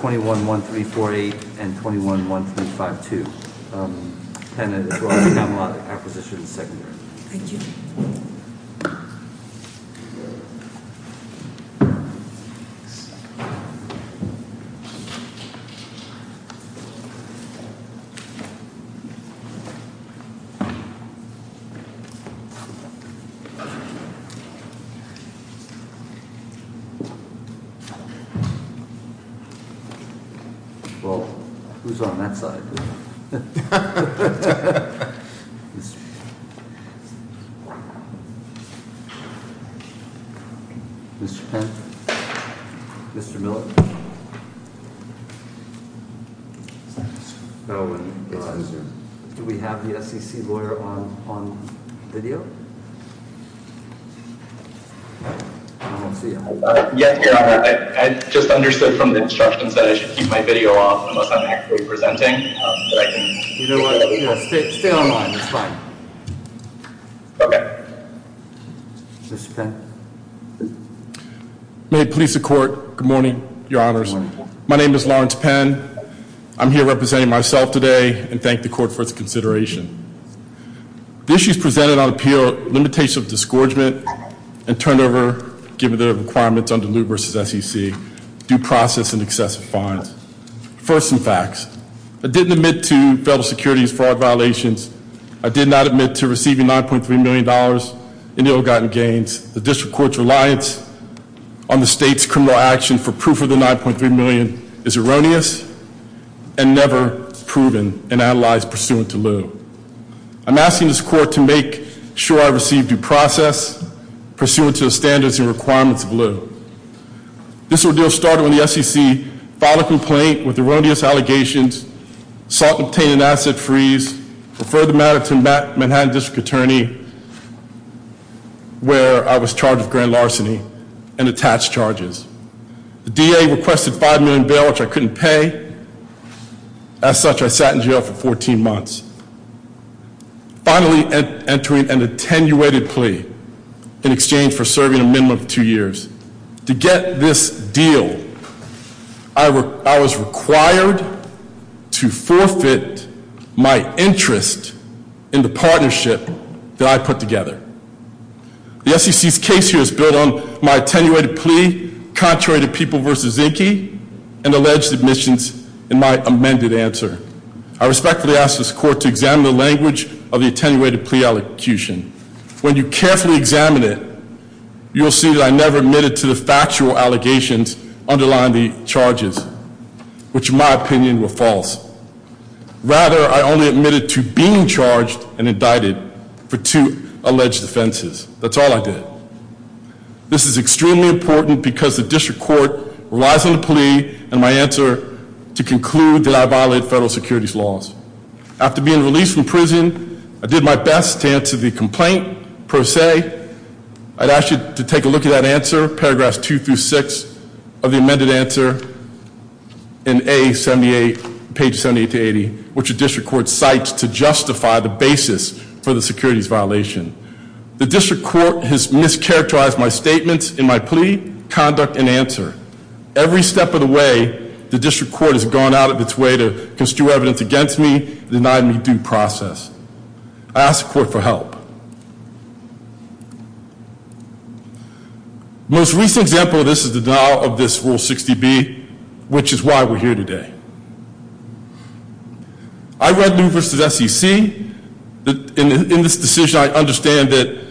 21-1348 and 21-1352, and as well as the Camelot Acquisition Secondary. Thank you. Well, who's on that side? Mr. Penn? Mr. Miller? Do we have the SEC lawyer on video? I just understood from the instructions that I should keep my video off unless I'm actually presenting. You know what? Stay online. It's fine. Okay. Mr. Penn? May it please the court, good morning, your honors. My name is Lawrence Penn. I'm here representing myself today and thank the court for its consideration. The issues presented on appeal are limitations of disgorgement and turnover, given the requirements under Lew v. SEC, due process and excessive fines. First, some facts. I didn't admit to federal securities fraud violations. I did not admit to receiving $9.3 million in ill-gotten gains. The district court's reliance on the state's criminal action for proof of the $9.3 million is erroneous and never proven and analyzed pursuant to Lew. I'm asking this court to make sure I receive due process pursuant to the standards and requirements of Lew. This ordeal started when the SEC filed a complaint with erroneous allegations, sought and obtained an asset freeze, referred the matter to Manhattan District Attorney, where I was charged with grand larceny and attached charges. The DA requested $5 million in bail, which I couldn't pay. As such, I sat in jail for 14 months. Finally, entering an attenuated plea in exchange for serving a minimum of two years. To get this deal, I was required to forfeit my interest in the partnership that I put together. The SEC's case here is built on my attenuated plea contrary to People v. Zinke and alleged admissions in my amended answer. I respectfully ask this court to examine the language of the attenuated plea When you carefully examine it, you'll see that I never admitted to the factual allegations underlying the charges, which in my opinion were false. Rather, I only admitted to being charged and indicted for two alleged offenses. That's all I did. This is extremely important because the district court relies on the plea and my answer to conclude that I violated federal securities laws. After being released from prison, I did my best to answer the complaint, per se. I'd ask you to take a look at that answer, paragraphs 2 through 6 of the amended answer in A78, page 78 to 80, which the district court cites to justify the basis for the securities violation. The district court has mischaracterized my statements in my plea, conduct, and answer. Every step of the way, the district court has gone out of its way to construe evidence against me and deny me due process. I ask the court for help. The most recent example of this is the denial of this Rule 60B, which is why we're here today. I read New versus SEC, and in this decision I understand that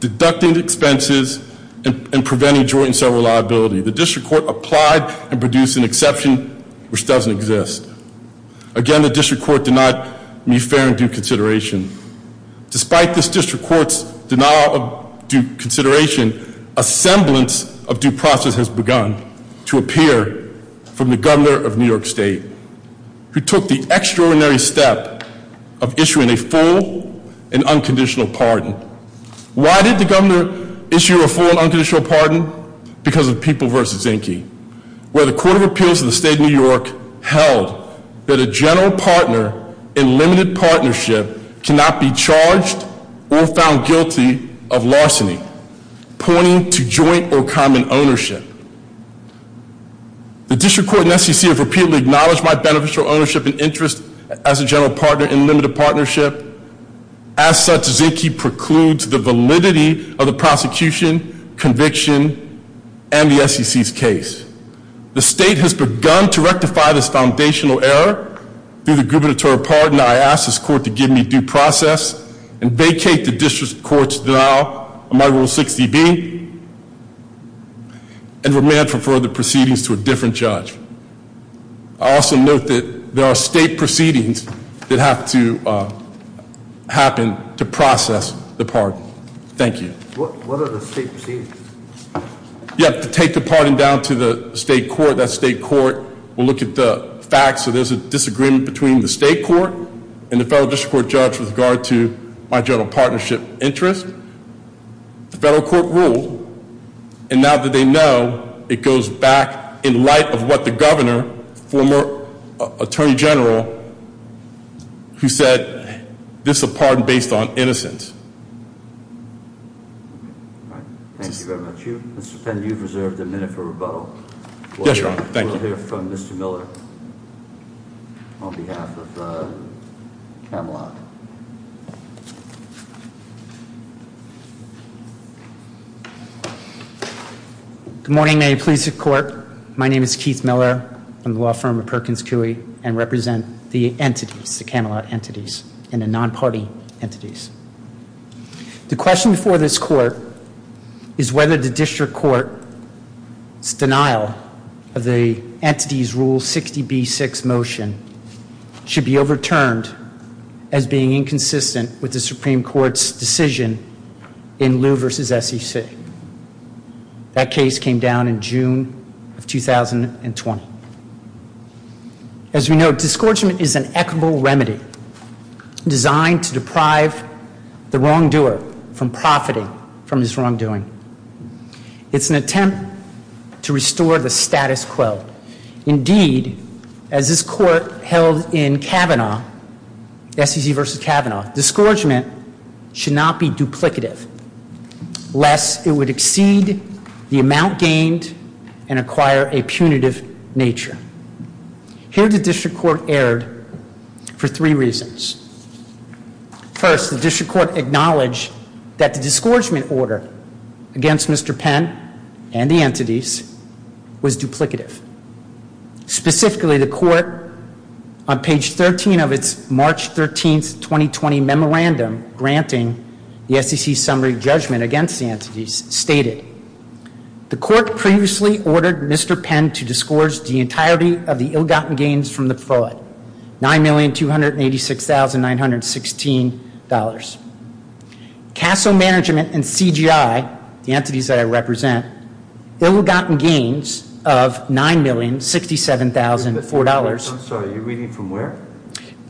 deducting expenses and preventing joint and several liability. The district court applied and produced an exception which doesn't exist. Again, the district court denied me fair and due consideration. Despite this district court's denial of due consideration, a semblance of due process has begun to appear from the governor of New York State, who took the extraordinary step of issuing a full and unconditional pardon. Why did the governor issue a full and unconditional pardon? Because of people versus Zinke. Where the court of appeals in the state of New York held that a general partner in limited partnership cannot be charged or found guilty of larceny, pointing to joint or common ownership. The district court and SEC have repeatedly acknowledged my beneficial ownership and interest as a general partner in limited partnership. As such, Zinke precludes the validity of the prosecution, conviction, and the SEC's case. The state has begun to rectify this foundational error through the gubernatorial pardon. I ask this court to give me due process and vacate the district court's denial of my Rule 60B, and remand for further proceedings to a different judge. I also note that there are state proceedings that have to happen to process the pardon. Thank you. What are the state proceedings? You have to take the pardon down to the state court. That state court will look at the facts, so there's a disagreement between the state court and the federal district court judge with regard to my general partnership interest. The federal court ruled, and now that they know, it goes back in light of what the governor, former attorney general, who said, this is a pardon based on innocence. Thank you very much. Mr. Pender, you've reserved a minute for rebuttal. Yes, Your Honor. We'll hear from Mr. Miller on behalf of Camelot. Good morning. May it please the court. My name is Keith Miller. I'm the law firm of Perkins Coie and represent the entities, the Camelot entities, and the non-party entities. The question before this court is whether the district court's denial of the entity's Rule 60B6 motion should be overturned as being inconsistent with the Supreme Court's decision in Liu v. SEC. That case came down in June of 2020. As we know, disgorgement is an equitable remedy designed to deprive the wrongdoer from profiting from this wrongdoing. It's an attempt to restore the status quo. Indeed, as this court held in Kavanaugh, SEC v. Kavanaugh, disgorgement should not be duplicative lest it would exceed the amount gained and acquire a punitive nature. Here the district court erred for three reasons. First, the district court acknowledged that the disgorgement order against Mr. Penn and the entities was duplicative. Specifically, the court on page 13 of its March 13, 2020 memorandum granting the SEC summary judgment against the entities stated, The court previously ordered Mr. Penn to disgorge the entirety of the ill-gotten gains from the fraud, $9,286,916. CASO management and CGI, the entities that I represent, ill-gotten gains of $9,067,004. I'm sorry, you're reading from where?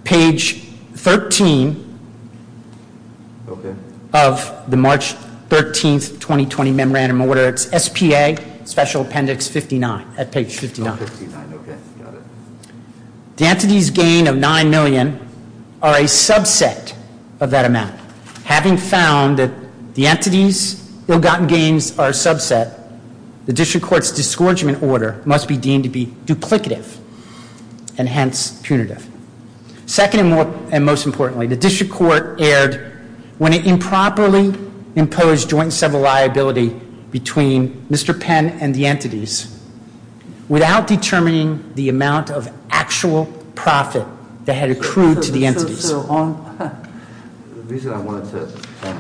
Page 13 of the March 13, 2020 memorandum order. It's SPA Special Appendix 59 at page 59. Okay, got it. The entities gain of $9 million are a subset of that amount. Having found that the entities' ill-gotten gains are a subset, the district court's disgorgement order must be deemed to be duplicative and hence punitive. Second and most importantly, the district court erred when it improperly imposed joint and several liability between Mr. Penn and the entities without determining the amount of actual profit that had accrued to the entities. The reason I wanted to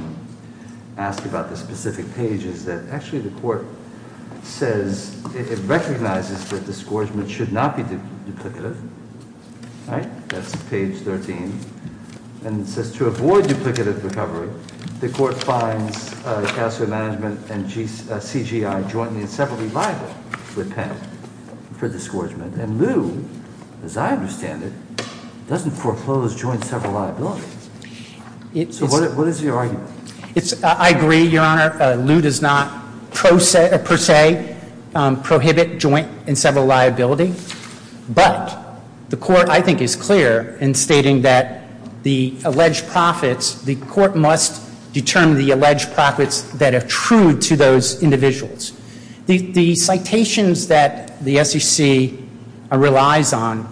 ask about this specific page is that actually the court says it recognizes that disgorgement should not be duplicative. That's page 13. And it says to avoid duplicative recovery, the court finds CASO management and CGI jointly and separately liable with Penn for disgorgement. And Lew, as I understand it, doesn't foreclose joint and several liability. So what is your argument? I agree, Your Honor. Lew does not per se prohibit joint and several liability. But the court, I think, is clear in stating that the alleged profits, the court must determine the alleged profits that accrued to those individuals. The citations that the SEC relies on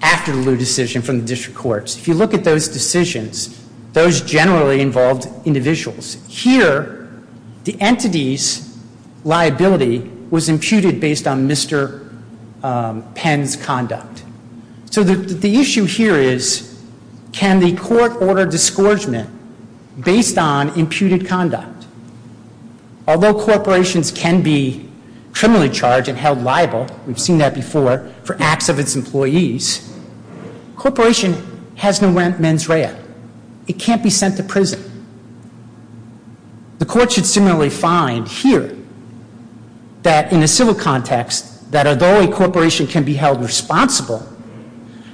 after the Lew decision from the district courts, if you look at those decisions, those generally involved individuals. Here, the entity's liability was imputed based on Mr. Penn's conduct. So the issue here is can the court order disgorgement based on imputed conduct? Although corporations can be criminally charged and held liable, we've seen that before, for acts of its employees, a corporation has no mens rea. The court should similarly find here that in a civil context, that although a corporation can be held responsible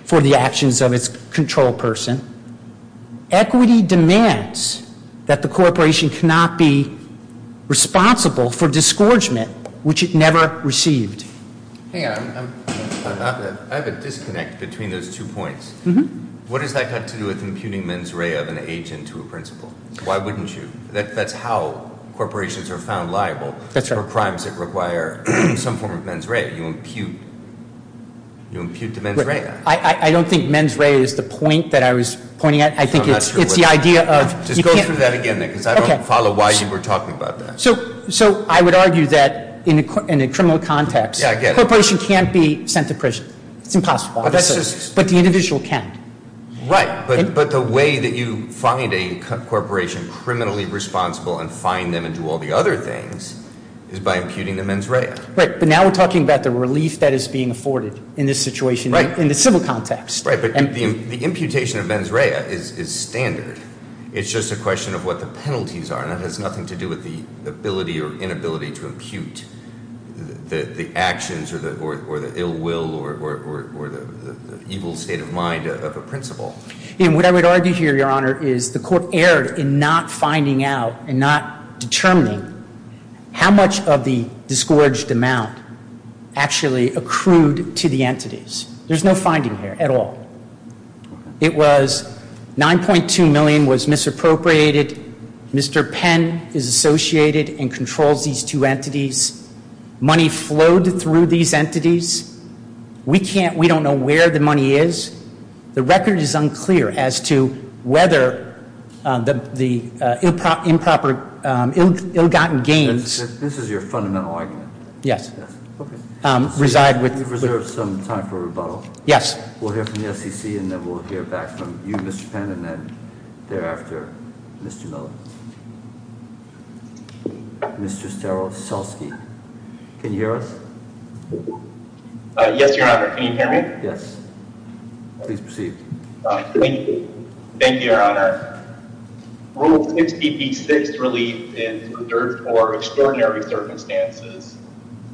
for the actions of its control person, equity demands that the corporation cannot be responsible for disgorgement, which it never received. Hang on. I have a disconnect between those two points. What does that have to do with imputing mens rea of an agent to a principal? Why wouldn't you? That's how corporations are found liable for crimes that require some form of mens rea. You impute. You impute to mens rea. I don't think mens rea is the point that I was pointing at. I think it's the idea of- Just go through that again, Nick, because I don't follow why you were talking about that. So I would argue that in a criminal context, a corporation can't be sent to prison. It's impossible. But the individual can. Right, but the way that you find a corporation criminally responsible and find them and do all the other things is by imputing the mens rea. Right, but now we're talking about the relief that is being afforded in this situation in the civil context. Right, but the imputation of mens rea is standard. It's just a question of what the penalties are, and it has nothing to do with the ability or inability to impute the actions or the ill will or the evil state of mind of a principal. What I would argue here, Your Honor, is the court erred in not finding out and not determining how much of the disgorged amount actually accrued to the entities. There's no finding here at all. It was 9.2 million was misappropriated. Mr. Penn is associated and controls these two entities. Money flowed through these entities. We can't, we don't know where the money is. The record is unclear as to whether the improper, ill-gotten gains. This is your fundamental argument. Okay. Reside with. Reserve some time for rebuttal. Yes. We'll hear from the SEC, and then we'll hear back from you, Mr. Penn, and then thereafter, Mr. Miller. Mr. Sterl Selsky. Can you hear us? Yes, Your Honor. Can you hear me? Yes. Please proceed. Thank you, Your Honor. Rule 6BP6 relief is reserved for extraordinary circumstances.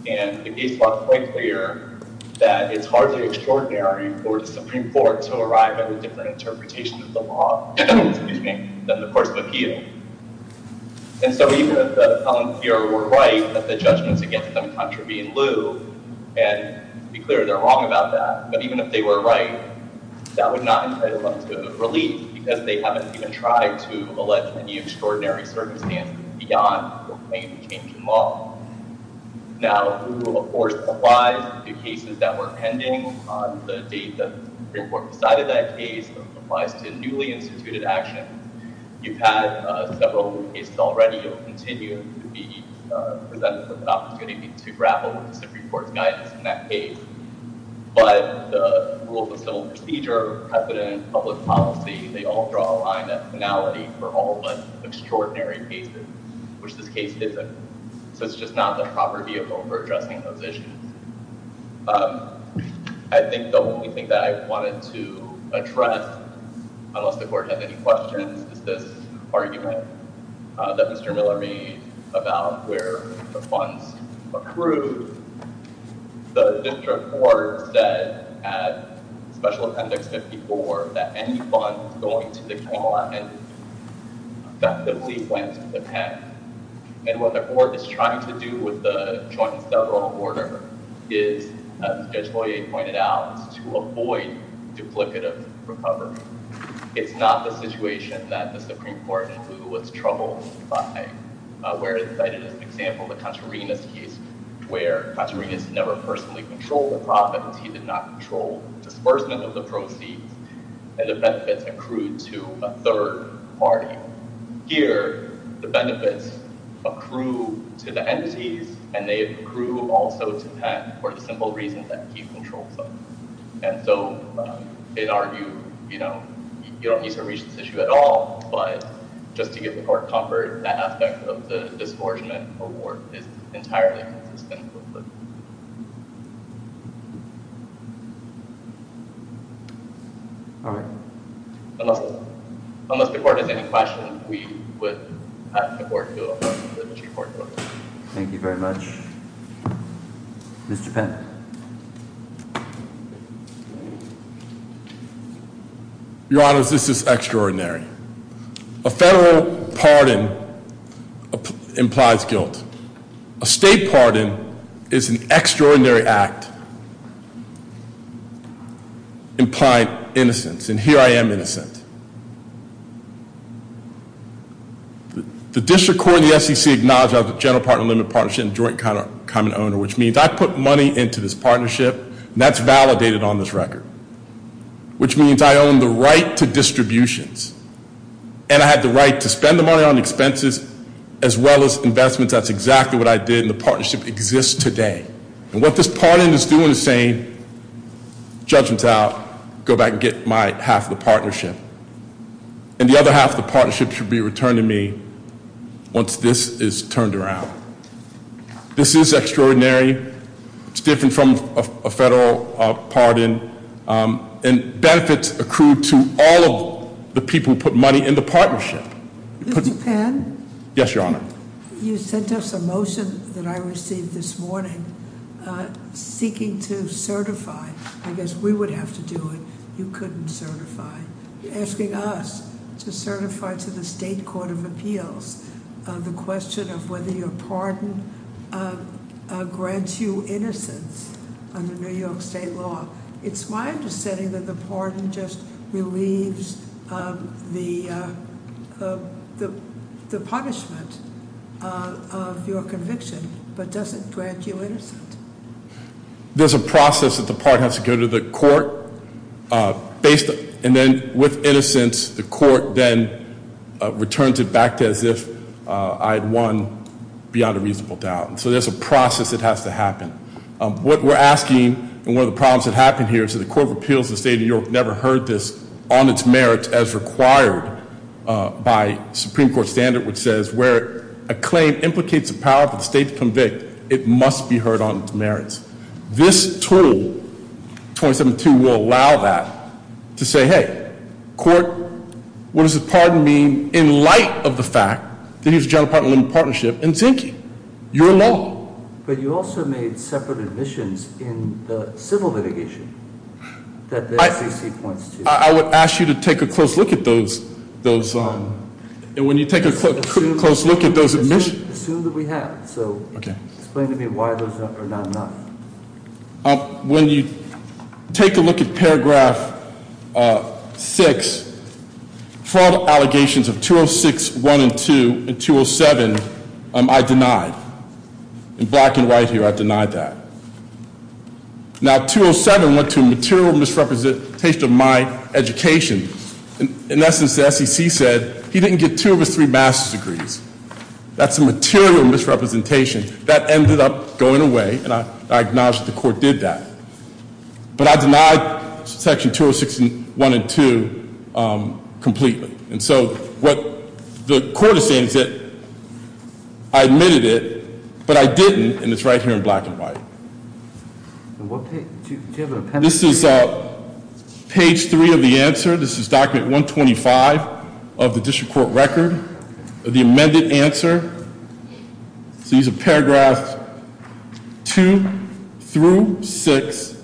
And it needs to be made quite clear that it's hardly extraordinary for the Supreme Court to arrive at a different interpretation of the law than the courts of appeal. And so even if the appellant here were right, that the judgments against them contravene lieu, and to be clear, they're wrong about that. But even if they were right, that would not entitle them to relief because they haven't even tried to allege any extraordinary circumstances beyond the claim to change the law. Now, the rule, of course, applies to cases that were pending on the date that the Supreme Court decided that case. It applies to newly instituted actions. You've had several cases already. You'll continue to be presented with an opportunity to grapple with the Supreme Court's guidance in that case. But the rules of civil procedure, precedent, public policy, they all draw a line at finality for all but extraordinary cases, which this case isn't. So it's just not the proper vehicle for addressing those issues. I think the only thing that I wanted to address, unless the court has any questions, is this argument that Mr. Miller made about where the funds accrued. The district court said at Special Appendix 54 that any funds going to the K-11 effectively went to the pen. And what the court is trying to do with the joint and several order is, as Judge Boyer pointed out, is to avoid duplicative recovery. It's not the situation that the Supreme Court was troubled by. Where, cited as an example, the Contarinas case, where Contarinas never personally controlled the profits. He did not control disbursement of the proceeds. And the benefits accrued to a third party. Here, the benefits accrue to the entities, and they accrue also to Penn for the simple reason that he controls them. And so, in our view, you don't need to reach this issue at all. But just to give the court comfort, that aspect of the disbursement award is entirely consistent with it. All right. Unless the court has any questions, we would ask the Supreme Court to approve it. Thank you very much. Mr. Penn. Your Honor, this is extraordinary. A federal pardon implies guilt. A state pardon is an extraordinary act. Implied innocence. And here I am innocent. The district court and the SEC acknowledge our general partner limit partnership and joint common owner. Which means I put money into this partnership, and that's validated on this record. Which means I own the right to distributions. And I have the right to spend the money on expenses as well as investments. That's exactly what I did, and the partnership exists today. And what this pardon is doing is saying, judgment's out. Go back and get my half of the partnership. And the other half of the partnership should be returned to me once this is turned around. This is extraordinary. It's different from a federal pardon. And benefits accrued to all of the people who put money in the partnership. Mr. Penn? Yes, Your Honor. You sent us a motion that I received this morning seeking to certify. I guess we would have to do it. You couldn't certify. You're asking us to certify to the State Court of Appeals. The question of whether your pardon grants you innocence under New York State law. It's my understanding that the pardon just relieves the punishment of your conviction, but doesn't grant you innocence. There's a process that the pardon has to go to the court. And then with innocence, the court then returns it back to as if I had won beyond a reasonable doubt. So there's a process that has to happen. What we're asking, and one of the problems that happened here is that the Court of Appeals of the State of New York never heard this on its merits as required by Supreme Court standard. Which says, where a claim implicates a power for the state to convict, it must be heard on its merits. This tool, 27-2, will allow that to say, hey, court, what does a pardon mean in light of the fact that he was a general partner in a partnership in Zinke? You're in law. But you also made separate admissions in the civil litigation that the FCC points to. I would ask you to take a close look at those. And when you take a close look at those admissions- Assume that we have. So explain to me why those are not enough. When you take a look at paragraph six, for all the allegations of 206, 1, and 2, and 207, I denied. In black and white here, I denied that. Now, 207 went to material misrepresentation of my education. In essence, the SEC said, he didn't get two of his three master's degrees. That's a material misrepresentation. That ended up going away, and I acknowledge that the court did that. But I denied section 206, 1 and 2 completely. And so what the court is saying is that I admitted it, but I didn't, and it's right here in black and white. Do you have a pen? This is page three of the answer. This is document 125 of the district court record, the amended answer. So these are paragraphs two through six.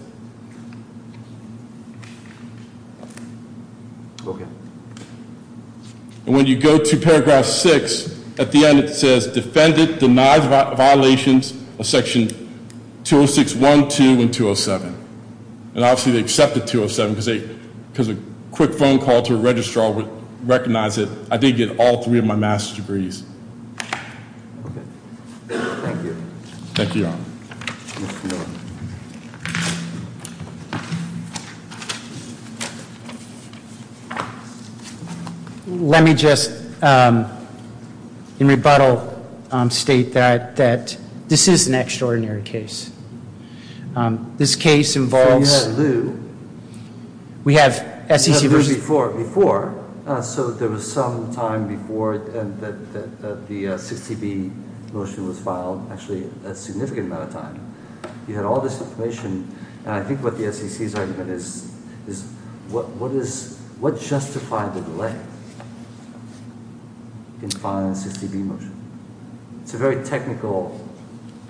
Okay. And when you go to paragraph six, at the end it says, defended, denied violations of section 206, 1, 2, and 207. And obviously they accepted 207 because a quick phone call to a registrar would recognize it. I did get all three of my master's degrees. Okay, thank you. Thank you, Your Honor. Mr. Miller. Let me just, in rebuttal, state that this is an extraordinary case. This case involves- So you have lieu. We have SEC- You have lieu before. So there was some time before that the 60B motion was filed, actually a significant amount of time. You had all this information, and I think what the SEC's argument is, is what justified the delay in filing the 60B motion? It's a very technical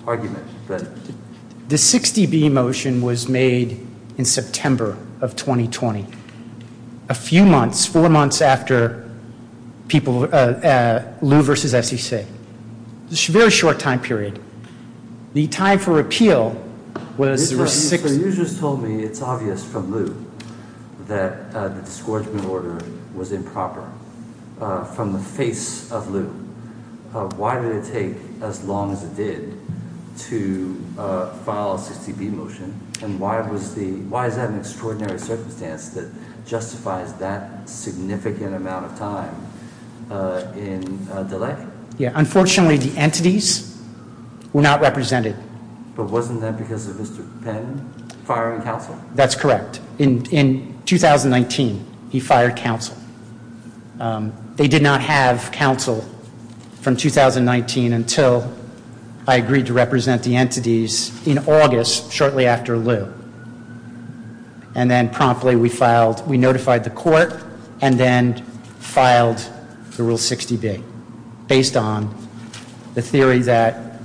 argument, but- The 60B motion was made in September of 2020. A few months, four months after lieu versus SEC. It's a very short time period. The time for repeal was- You just told me it's obvious from lieu that the discouragement order was improper from the face of lieu. Why did it take as long as it did to file a 60B motion? And why is that an extraordinary circumstance that justifies that significant amount of time in delay? Unfortunately, the entities were not represented. But wasn't that because of Mr. Penn firing counsel? That's correct. In 2019, he fired counsel. They did not have counsel from 2019 until I agreed to represent the entities in August, shortly after lieu. And then promptly we notified the court and then filed the Rule 60B based on the theory that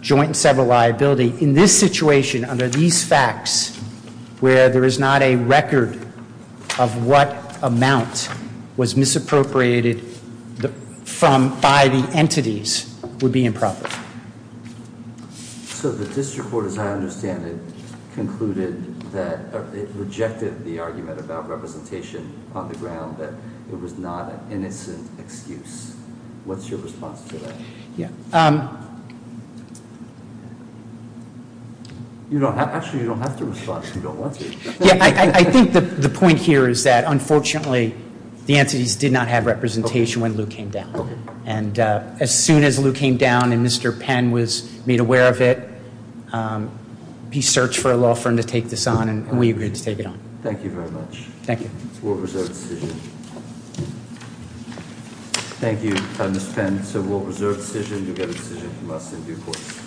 joint and several liability. In this situation, under these facts, where there is not a record of what amount was misappropriated by the entities, would be improper. So the district court, as I understand it, concluded that it rejected the argument about representation on the ground. That it was not an innocent excuse. What's your response to that? Yeah. Actually, you don't have to respond if you don't want to. Yeah, I think the point here is that, unfortunately, the entities did not have representation when lieu came down. And as soon as lieu came down and Mr. Penn was made aware of it, he searched for a law firm to take this on, and we agreed to take it on. Thank you very much. Thank you. Thank you. Thank you, Mr. Penn. So we'll reserve the decision. You'll get a decision from us in due course.